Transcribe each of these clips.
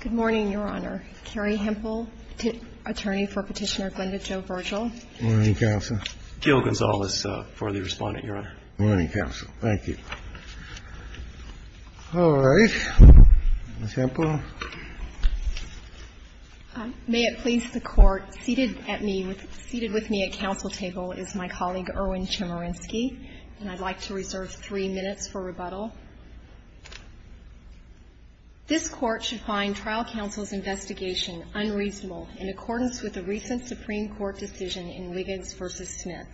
Good morning, Your Honor. Carrie Hempel, attorney for Petitioner Glenda Jo Virgil. Morning, Counsel. Gail Gonzales for the Respondent, Your Honor. Morning, Counsel. Thank you. All right. Ms. Hempel. May it please the Court, seated at me, seated with me at counsel table is my colleague Erwin Chemerinsky, and I'd like to reserve three minutes for rebuttal. This Court should find trial counsel's investigation unreasonable in accordance with a recent Supreme Court decision in Wiggins v. Smith.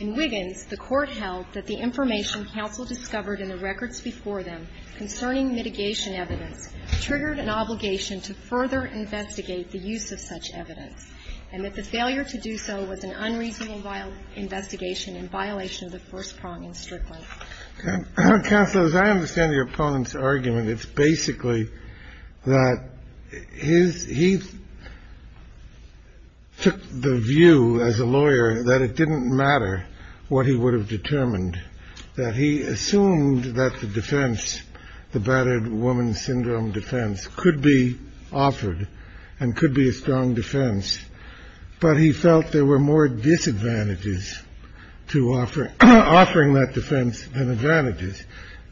In Wiggins, the Court held that the information counsel discovered in the records before them concerning mitigation evidence triggered an obligation to further investigate the use of such evidence, and that the failure to do so was an unreasonable investigation in violation of the first prong in Strickland. Counsel, as I understand your opponent's argument, it's basically that he took the view as a lawyer that it didn't matter what he would have determined, that he assumed that the defense, the battered woman syndrome defense, could be offered and could be a strong defense. But he felt there were more disadvantages to offering that defense than advantages.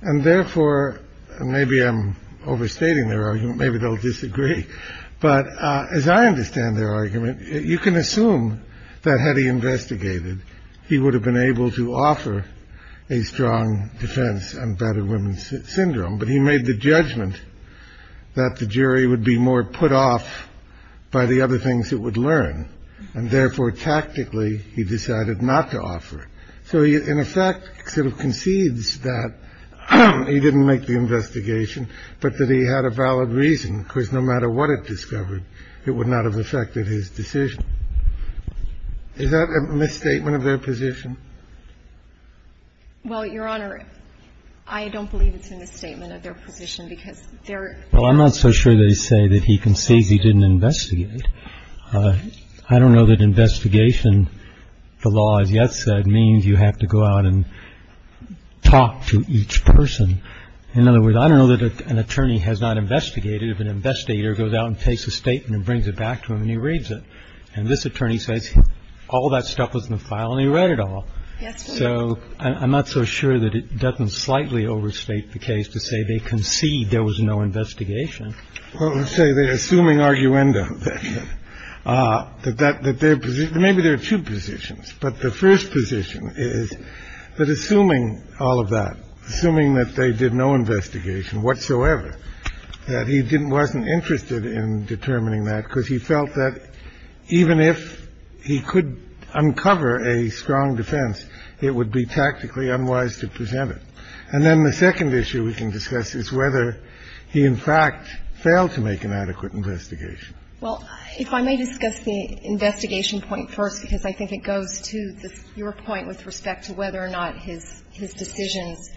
And therefore, and maybe I'm overstating their argument, maybe they'll disagree. But as I understand their argument, you can assume that had he investigated, he would have been able to offer a strong defense on battered women's syndrome. But he made the judgment that the jury would be more put off by the other things it would learn, and therefore, tactically, he decided not to offer. So he, in effect, sort of concedes that he didn't make the investigation, but that he had a valid reason, because no matter what it discovered, it would not have affected his decision. Is that a misstatement of their position? Well, Your Honor, I don't believe it's a misstatement of their position, because they're Well, I'm not so sure they say that he concedes he didn't investigate. I don't know that investigation, the law has yet said, means you have to go out and talk to each person. In other words, I don't know that an attorney has not investigated if an investigator goes out and takes a statement and brings it back to him and he reads it. And this attorney says all that stuff was in the file and he read it all. So I'm not so sure that it doesn't slightly overstate the case to say they concede there was no investigation. Well, let's say they're assuming arguendo that that that their maybe their two positions. But the first position is that assuming all of that, assuming that they did no investigation whatsoever, that he didn't wasn't interested in determining that, because he felt that even if he could uncover a strong defense, it would be tactically unwise to present it. And then the second issue we can discuss is whether he, in fact, failed to make an adequate investigation. Well, if I may discuss the investigation point first, because I think it goes to your point with respect to whether or not his decisions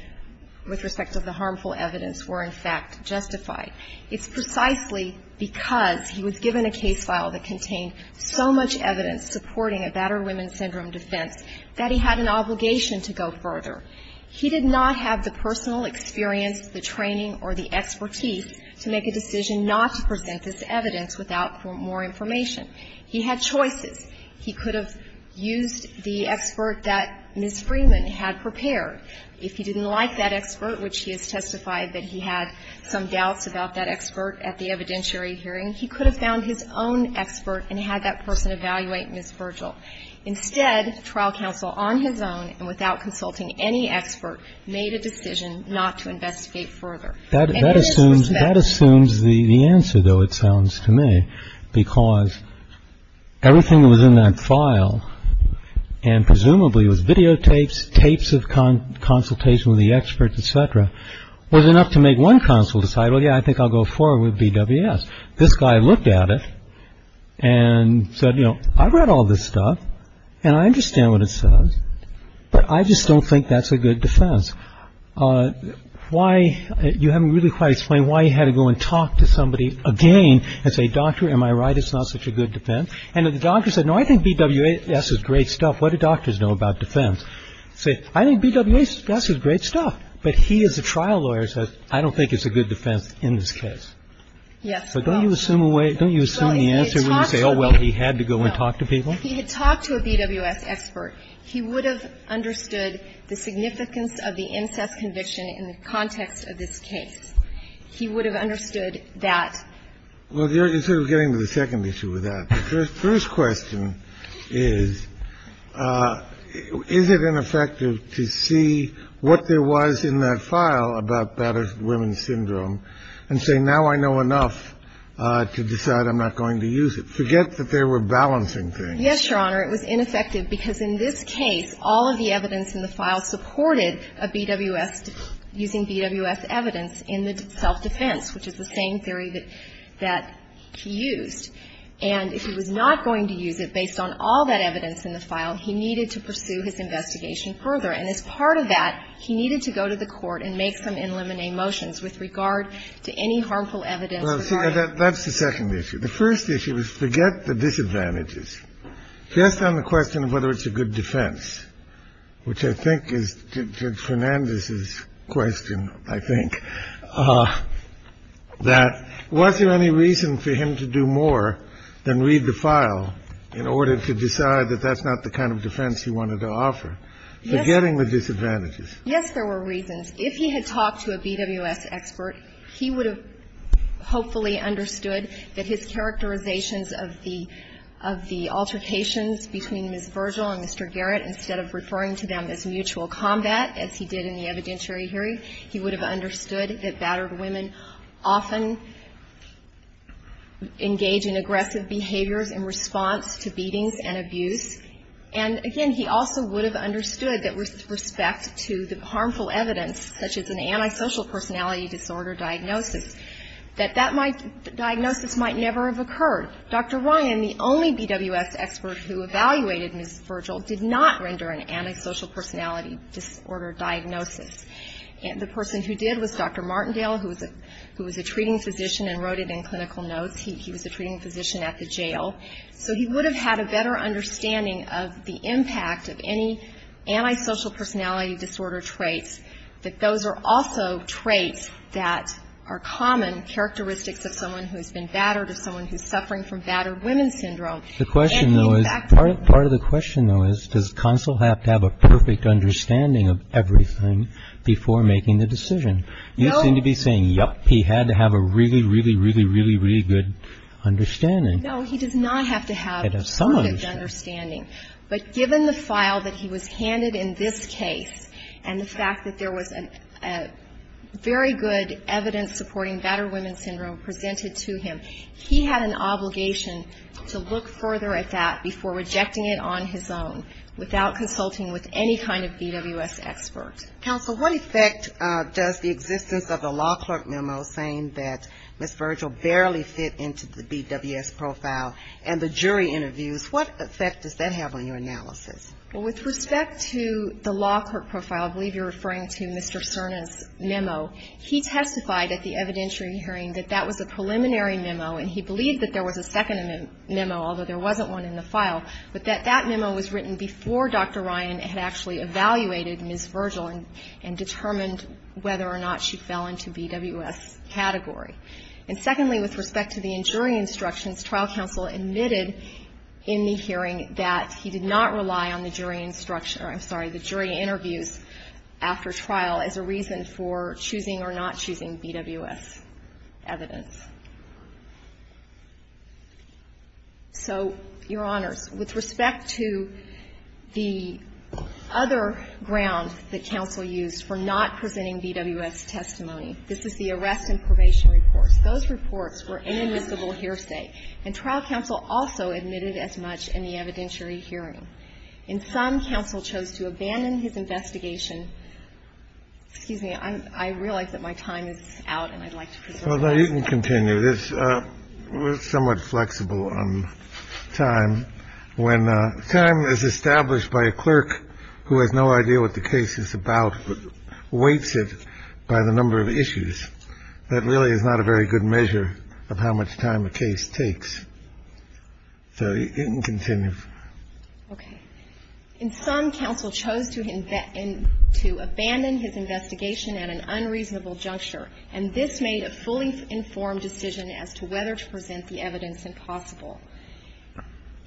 with respect to the harmful evidence were, in fact, justified. It's precisely because he was given a case file that contained so much evidence supporting a battered women's syndrome defense that he had an obligation to go further. He did not have the personal experience, the training, or the expertise to make a decision not to present this evidence without more information. He had choices. He could have used the expert that Ms. Freeman had prepared. If he didn't like that expert, which he has testified that he had some doubts about that expert at the evidentiary hearing, he could have found his own expert and had that person evaluate Ms. Virgil. Instead, trial counsel on his own and without consulting any expert made a decision not to investigate further. And in this respect That assumes that assumes the answer, though, it sounds to me. Because everything that was in that file and presumably was videotapes, tapes of consultation with the experts, et cetera, was enough to make one counsel decide, well, yeah, I think I'll go forward with BWS. This guy looked at it and said, you know, I read all this stuff and I understand what it says, but I just don't think that's a good defense. Why you haven't really quite explained why he had to go and talk to somebody again and say, doctor, am I right? It's not such a good defense. And the doctor said, no, I think BWS is great stuff. What do doctors know about defense? Say, I think BWS is great stuff. But he is a trial lawyer. So I don't think it's a good defense in this case. Yes. But don't you assume away? Don't you assume the answer when you say, oh, well, he had to go and talk to people. He had talked to a BWS expert. He would have understood the significance of the incest conviction in the context of this case. He would have understood that. Well, you're sort of getting to the second issue with that. The first question is, is it ineffective to see what there was in that file about battered women's syndrome and say, now I know enough to decide I'm not going to use it? Forget that they were balancing things. Yes, Your Honor. It was ineffective because in this case, all of the evidence in the file supported a BWS using BWS evidence in the self-defense, which is the same theory that he used. And if he was not going to use it based on all that evidence in the file, he needed to pursue his investigation further. And as part of that, he needed to go to the court and make some in limine motions with regard to any harmful evidence regarding that. That's the second issue. The first issue is forget the disadvantages. Just on the question of whether it's a good defense, which I think is Fernandez's question, I think, that was there any reason for him to do more than read the file in order to decide that that's not the kind of defense he wanted to offer, forgetting the disadvantages? Yes, there were reasons. If he had talked to a BWS expert, he would have hopefully understood that his characterizations of the altercations between Ms. Virgil and Mr. Garrett, instead of referring to them as mutual combat, as he did in the evidentiary hearing, he would have understood that battered women often engage in aggressive behaviors in response to beatings and abuse. And again, he also would have understood that with respect to the harmful evidence, such as an antisocial personality disorder diagnosis, that that diagnosis might never have occurred. Dr. Ryan, the only BWS expert who evaluated Ms. Virgil, did not render an antisocial personality disorder diagnosis. The person who did was Dr. Martindale, who was a treating physician and wrote it in clinical notes. He was a treating physician at the jail. So he would have had a better understanding of the impact of any antisocial personality disorder traits, that those are also traits that are common characteristics of someone who has been battered or someone who is suffering from battered women syndrome. The question though is, part of the question though is, does Consul have to have a perfect understanding of everything before making the decision? You seem to be saying, yup, he had to have a really, really, really, really, really good understanding. No, he does not have to have a perfect understanding. But given the file that he was handed in this case, and the fact that there was a very good evidence supporting battered women syndrome presented to him, he had an obligation to look further at that before rejecting it on his own, without consulting with any kind of BWS expert. Counsel, what effect does the existence of the law clerk memo saying that Ms. Virgil barely fit into the BWS profile and the jury interviews, what effect does that have on your analysis? Well, with respect to the law clerk profile, I believe you're referring to Mr. Cerna's memo, he testified at the evidentiary hearing that that was a preliminary memo, and he believed that there was a second memo, although there wasn't one in the file, but that that memo was written before Dr. Ryan had actually evaluated Ms. Virgil and determined whether or not she fell into BWS category. And secondly, with respect to the jury instructions, trial counsel admitted in the hearing that he did not rely on the jury instruction or, I'm sorry, the jury interviews after trial as a reason for choosing or not choosing BWS evidence. So, Your Honors, with respect to the other ground that counsel used for not presenting BWS testimony, this is the arrest and probation reports. Those reports were inadmissible hearsay, and trial counsel also admitted as much in the evidentiary hearing. And some counsel chose to abandon his investigation. Excuse me. I realize that my time is out, and I'd like to proceed. Well, you can continue. This is somewhat flexible on time. When time is established by a clerk who has no idea what the case is about but weights it by the number of issues, that really is not a very good measure of how much time a case takes. So you can continue. Okay. In sum, counsel chose to abandon his investigation at an unreasonable juncture, and this made a fully informed decision as to whether to present the evidence impossible.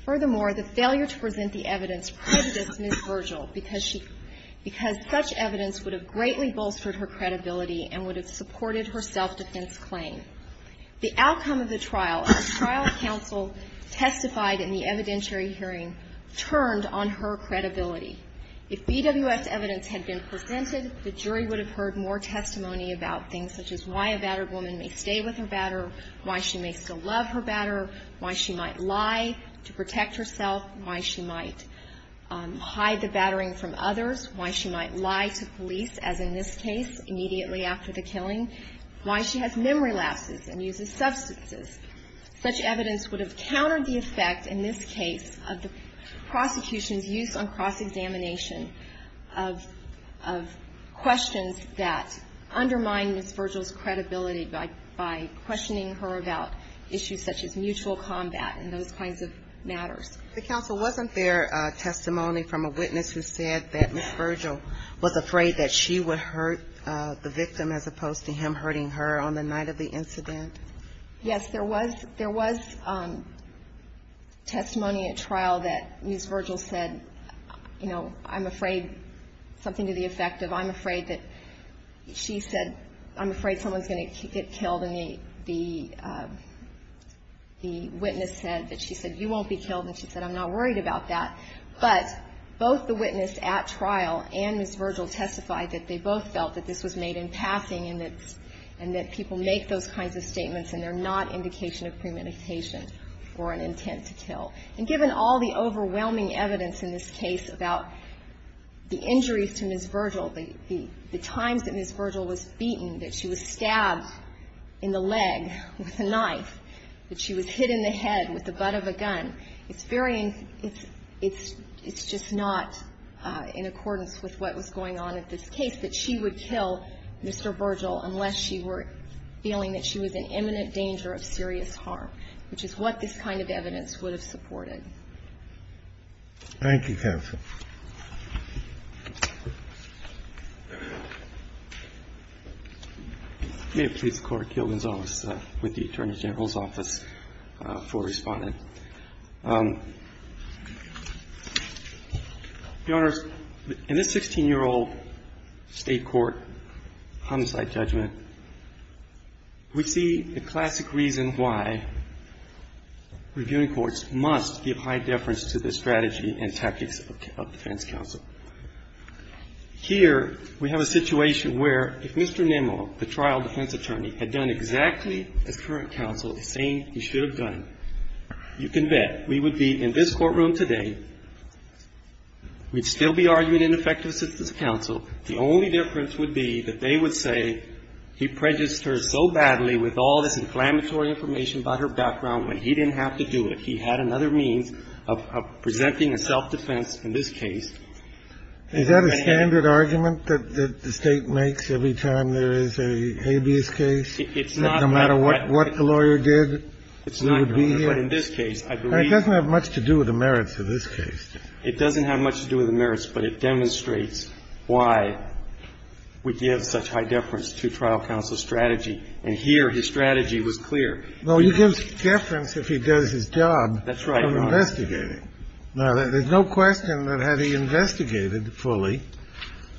Furthermore, the failure to present the evidence privileged Ms. Virgil because she — because such evidence would have greatly bolstered her credibility and would have supported her self-defense claim. The outcome of the trial, as trial counsel testified in the evidentiary hearing, turned on her credibility. If BWS evidence had been presented, the jury would have heard more testimony about things such as why a battered woman may stay with her batterer, why she may still love her batterer, why she might lie to protect herself, why she might hide the battering from others, why she might lie to police, as in this case, immediately after the killing, why she has memory lapses and uses substances. Such evidence would have countered the effect, in this case, of the prosecution's use on cross-examination of questions that undermine Ms. Virgil's credibility by questioning her about issues such as mutual combat and those kinds of matters. The counsel, wasn't there testimony from a witness who said that Ms. Virgil was afraid that she would hurt the victim as opposed to him hurting her on the night of the incident? Yes, there was. There was testimony at trial that Ms. Virgil said, you know, I'm afraid something to the effect of I'm afraid that she said, I'm afraid someone's going to get killed, and the witness said that she said, you won't be killed, and she said, I'm not worried about that. But both the witness at trial and Ms. Virgil testified that they both felt that this was made in passing and that people make those kinds of statements and they're not indication of premeditation or an intent to kill. And given all the overwhelming evidence in this case about the injuries to Ms. Virgil, the times that Ms. Virgil was beaten, that she was stabbed in the leg with a knife, that she was hit in the head with the butt of a gun, it's very, it's just not in accordance with what was going on in this case, that she would kill Mr. Virgil unless she were feeling that she was in imminent danger of serious harm, which is what this kind of evidence would have supported. Thank you, counsel. May it please the Court, Gail Gonzales with the Attorney General's Office for responding. Your Honors, in this 16-year-old state court homicide judgment, we see the classic reason why reviewing courts must give high deference to the strategy and tactics of defense counsel. Here, we have a situation where if Mr. Nimmo, the trial defense attorney, had done exactly as current counsel is saying he should have done, you can bet we would be in this courtroom today, we'd still be arguing ineffective assistance counsel. The only difference would be that they would say he prejudiced her so badly with all this inflammatory information about her background when he didn't have to do it. He had another means of presenting a self-defense in this case. Is that a standard argument that the State makes every time there is a habeas case, no matter what the lawyer did? It's not, Your Honor. But in this case, I believe that's a standard argument. It doesn't have much to do with the merits of this case. It doesn't have much to do with the merits, but it demonstrates why we give such high deference to trial counsel's strategy. And here, his strategy was clear. No, he gives deference if he does his job of investigating. That's right, Your Honor. Now, there's no question that had he investigated fully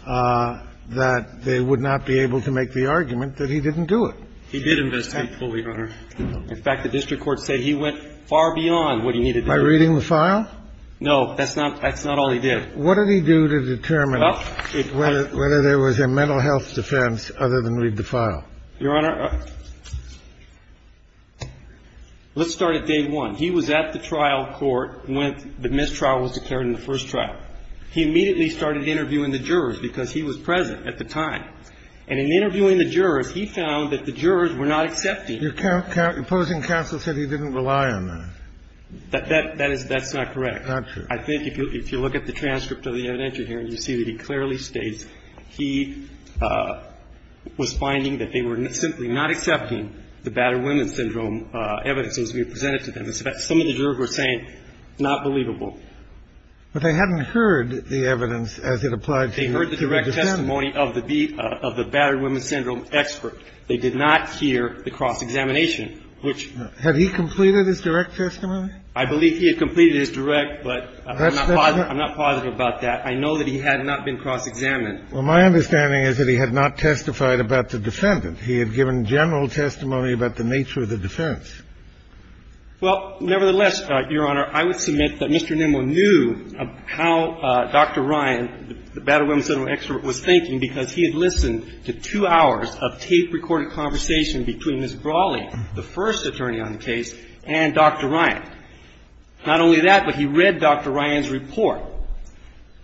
that they would not be able to make the argument that he didn't do it. He did investigate fully, Your Honor. In fact, the district court said he went far beyond what he needed to do. By reading the file? No, that's not all he did. What did he do to determine whether there was a mental health defense other than read the file? Your Honor, let's start at day one. He was at the trial court when the mistrial was declared in the first trial. He immediately started interviewing the jurors because he was present at the time. And in interviewing the jurors, he found that the jurors were not accepting. The opposing counsel said he didn't rely on that. That's not correct. Not true. I think if you look at the transcript of the evidentiary hearing, you see that he clearly states he was finding that they were simply not accepting the battered women syndrome evidence as we presented to them. In fact, some of the jurors were saying, not believable. But they hadn't heard the evidence as it applied to the defendants. They heard the direct testimony of the battered women syndrome expert. They did not hear the cross-examination, which — Had he completed his direct testimony? I believe he had completed his direct, but I'm not positive about that. I know that he had not been cross-examined. Well, my understanding is that he had not testified about the defendant. He had given general testimony about the nature of the defense. Well, nevertheless, Your Honor, I would submit that Mr. Nimmo knew how Dr. Ryan, the battered women syndrome expert, was thinking, because he had listened to two hours of tape-recorded conversation between Ms. Brawley, the first attorney on the case, and Dr. Ryan. Not only that, but he read Dr. Ryan's report.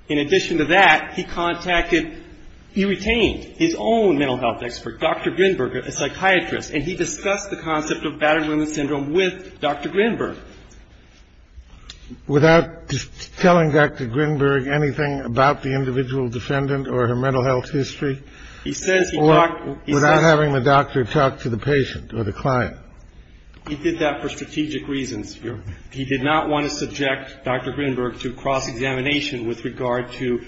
In addition to that, he contacted — he retained his own mental health expert, Dr. Grinberg, a psychiatrist, and he discussed the concept of battered women syndrome with Dr. Grinberg. Without telling Dr. Grinberg anything about the individual defendant or her mental health history? He says he talked — Or without having the doctor talk to the patient or the client? He did that for strategic reasons, Your Honor. He did not want to subject Dr. Grinberg to cross-examination with regard to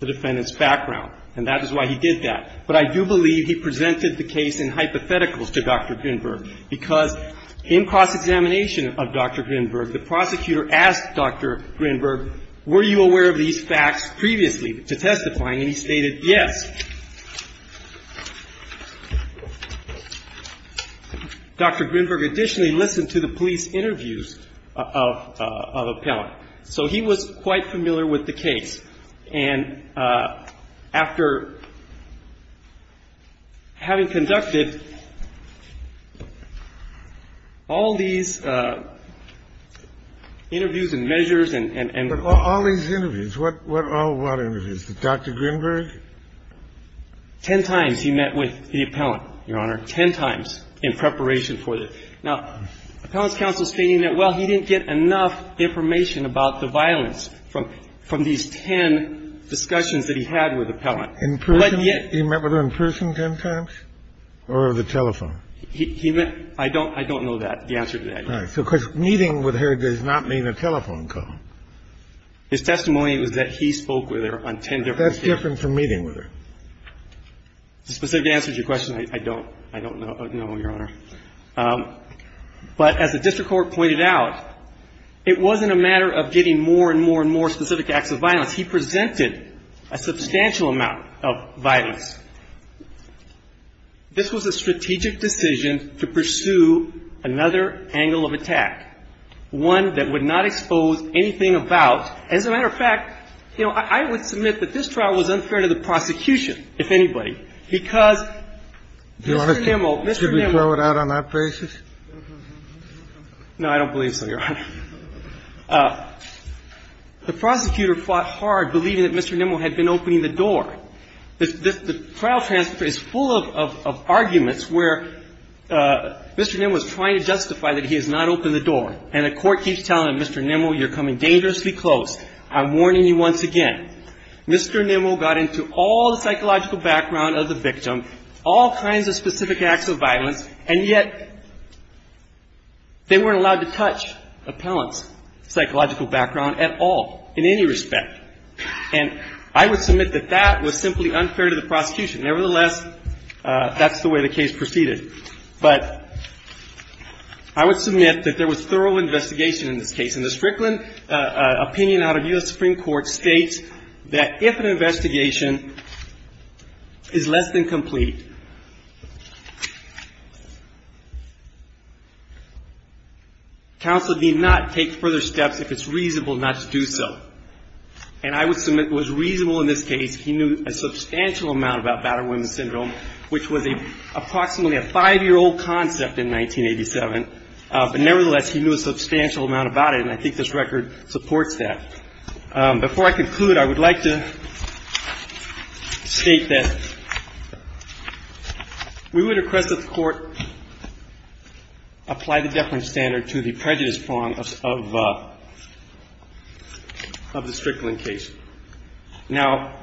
the defendant's background, and that is why he did that. But I do believe he presented the case in hypotheticals to Dr. Grinberg, because in cross-examination of Dr. Grinberg, the prosecutor asked Dr. Grinberg, were you aware of these facts previously? To testify, and he stated, yes. Dr. Grinberg additionally listened to the police interviews of — of appellant. So he was quite familiar with the case. And after having conducted all these interviews and measures and — But all these interviews, what — what — all what interviews? Did Dr. Grinberg? Ten times he met with the appellant, Your Honor, ten times in preparation for this. Now, appellant's counsel is stating that, well, he didn't get enough information about the violence from — from these ten discussions that he had with the appellant. But yet — In person? He met with her in person ten times, or over the telephone? He — he met — I don't — I don't know that, the answer to that, Your Honor. All right. So meeting with her does not mean a telephone call. His testimony was that he spoke with her on ten different occasions. That's different from meeting with her. The specific answer to your question, I don't — I don't know, Your Honor. But as the district court pointed out, it wasn't a matter of getting more and more and more specific acts of violence. He presented a substantial amount of violence. This was a strategic decision to pursue another angle of attack, one that would not expose anything about — as a matter of fact, you know, I would submit that this trial was unfair to the prosecution, if anybody, because Mr. Nimmo — Could we throw it out on that basis? No, I don't believe so, Your Honor. The prosecutor fought hard, believing that Mr. Nimmo had been opening the door. The trial transcript is full of arguments where Mr. Nimmo is trying to justify that he has not opened the door, and the Court keeps telling Mr. Nimmo, you're coming dangerously close. I'm warning you once again. Mr. Nimmo got into all the psychological background of the victim, all kinds of specific acts of violence, and yet they weren't allowed to touch appellant's psychological background at all, in any respect. And I would submit that that was simply unfair to the prosecution. Nevertheless, that's the way the case proceeded. But I would submit that there was thorough investigation in this case. And the Strickland opinion out of U.S. Supreme Court states that if an investigation is less than complete, counsel need not take further steps if it's reasonable not to do so. And I would submit it was reasonable in this case. He knew a substantial amount about battered women syndrome, which was approximately a five-year-old concept in 1987. But nevertheless, he knew a substantial amount about it, and I think this record supports that. Before I conclude, I would like to state that we would request that the Court apply the deference standard to the prejudice prong of the Strickland case. Now,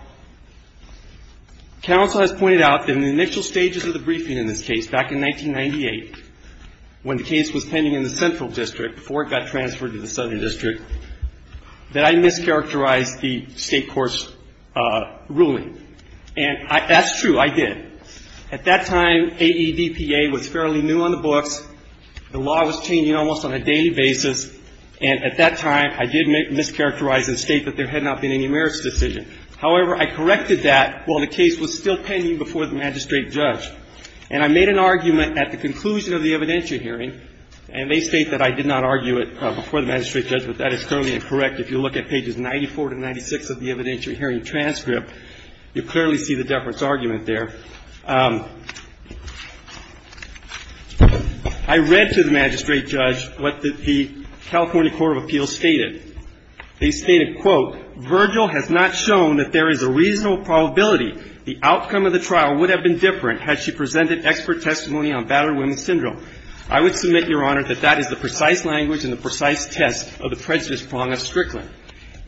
counsel has pointed out that in the initial stages of the briefing in this case, back in 1998, when the case was pending in the Central District before it got transferred to the Southern District, that I mischaracterized the State court's ruling. And that's true. I did. At that time, AEDPA was fairly new on the books. The law was changing almost on a daily basis. And at that time, I did mischaracterize and state that there had not been any merits decision. However, I corrected that while the case was still pending before the magistrate judge. And I made an argument at the conclusion of the evidentiary hearing, and they state that I did not argue it before the magistrate judge, but that is currently incorrect. If you look at pages 94 to 96 of the evidentiary hearing transcript, you clearly see the deference argument there. I read to the magistrate judge what the California Court of Appeals stated. They stated, quote, I would submit, Your Honor, that that is the precise language and the precise test of the prejudice prong of Strickland.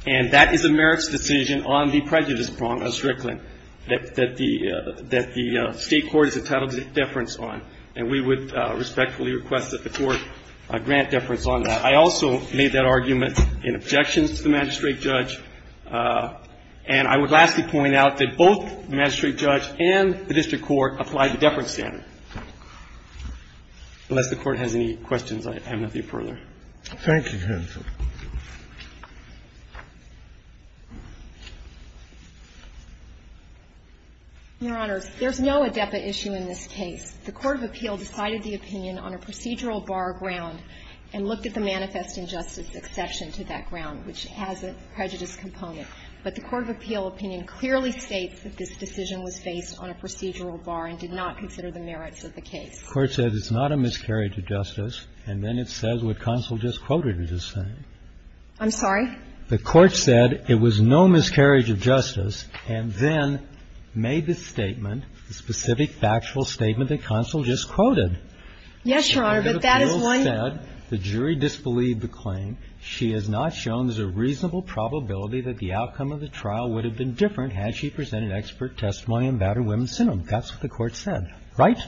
And that is a merits decision on the prejudice prong of Strickland that the State court is entitled to deference on. And we would respectfully request that the Court grant deference on that. I also made that argument in objections to the magistrate judge. And I would lastly point out that both the magistrate judge and the district court applied the deference standard. Unless the Court has any questions, I have nothing further. Thank you, Your Honor. Your Honors, there's no ADEPA issue in this case. The court of appeal decided the opinion on a procedural bar ground and looked at the manifest injustice exception to that ground, which has a prejudice component. But the court of appeal opinion clearly states that this decision was faced on a procedural bar and did not consider the merits of the case. The court said it's not a miscarriage of justice. And then it says what Consul just quoted is the same. I'm sorry? The court said it was no miscarriage of justice and then made the statement, the specific factual statement that Consul just quoted. Yes, Your Honor, but that is one. The court said the jury disbelieved the claim. She has not shown there's a reasonable probability that the outcome of the trial would have been different had she presented expert testimony on battered women's syndrome. That's what the court said. Right?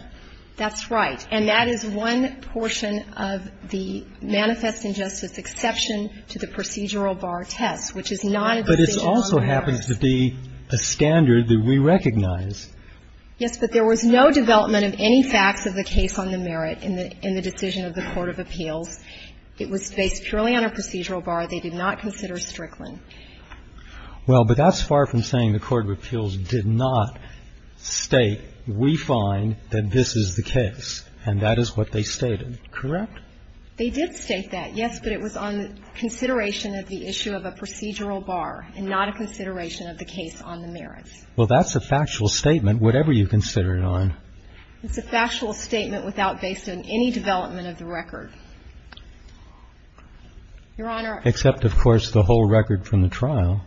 That's right. And that is one portion of the manifest injustice exception to the procedural bar test, which is not a decision on the merits. But it also happens to be a standard that we recognize. Yes, but there was no development of any facts of the case on the merit in the decision of the court of appeals. It was based purely on a procedural bar. They did not consider Strickland. Well, but that's far from saying the court of appeals did not state we find that this is the case, and that is what they stated. Correct? They did state that, yes, but it was on consideration of the issue of a procedural bar and not a consideration of the case on the merits. Well, that's a factual statement, whatever you consider it on. It's a factual statement without based on any development of the record. Your Honor. Except, of course, the whole record from the trial.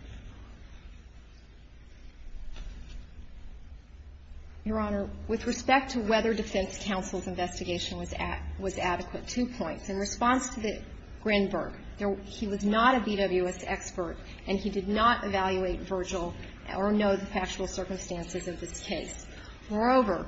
Your Honor, with respect to whether defense counsel's investigation was adequate, two points. In response to the Grinberg, he was not a BWS expert, and he did not evaluate Virgil or know the factual circumstances of this case. Moreover,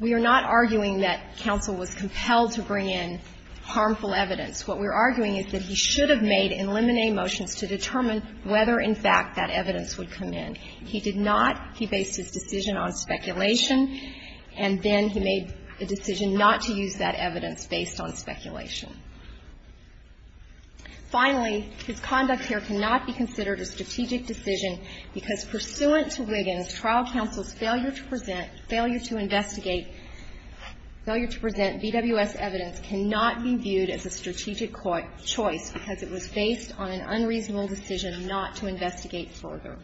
we are not arguing that counsel was compelled to bring in harmful evidence. What we're arguing is that he should have made in limine motions to determine whether, in fact, that evidence would come in. He did not. He based his decision on speculation, and then he made a decision not to use that evidence based on speculation. Finally, his conduct here cannot be considered a strategic decision because pursuant to Wiggins, trial counsel's failure to present, failure to investigate, failure to present BWS evidence cannot be viewed as a strategic choice because it was based on an unreasonable decision not to investigate further.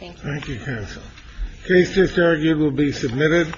Thank you. Thank you, counsel. The case just argued will be submitted.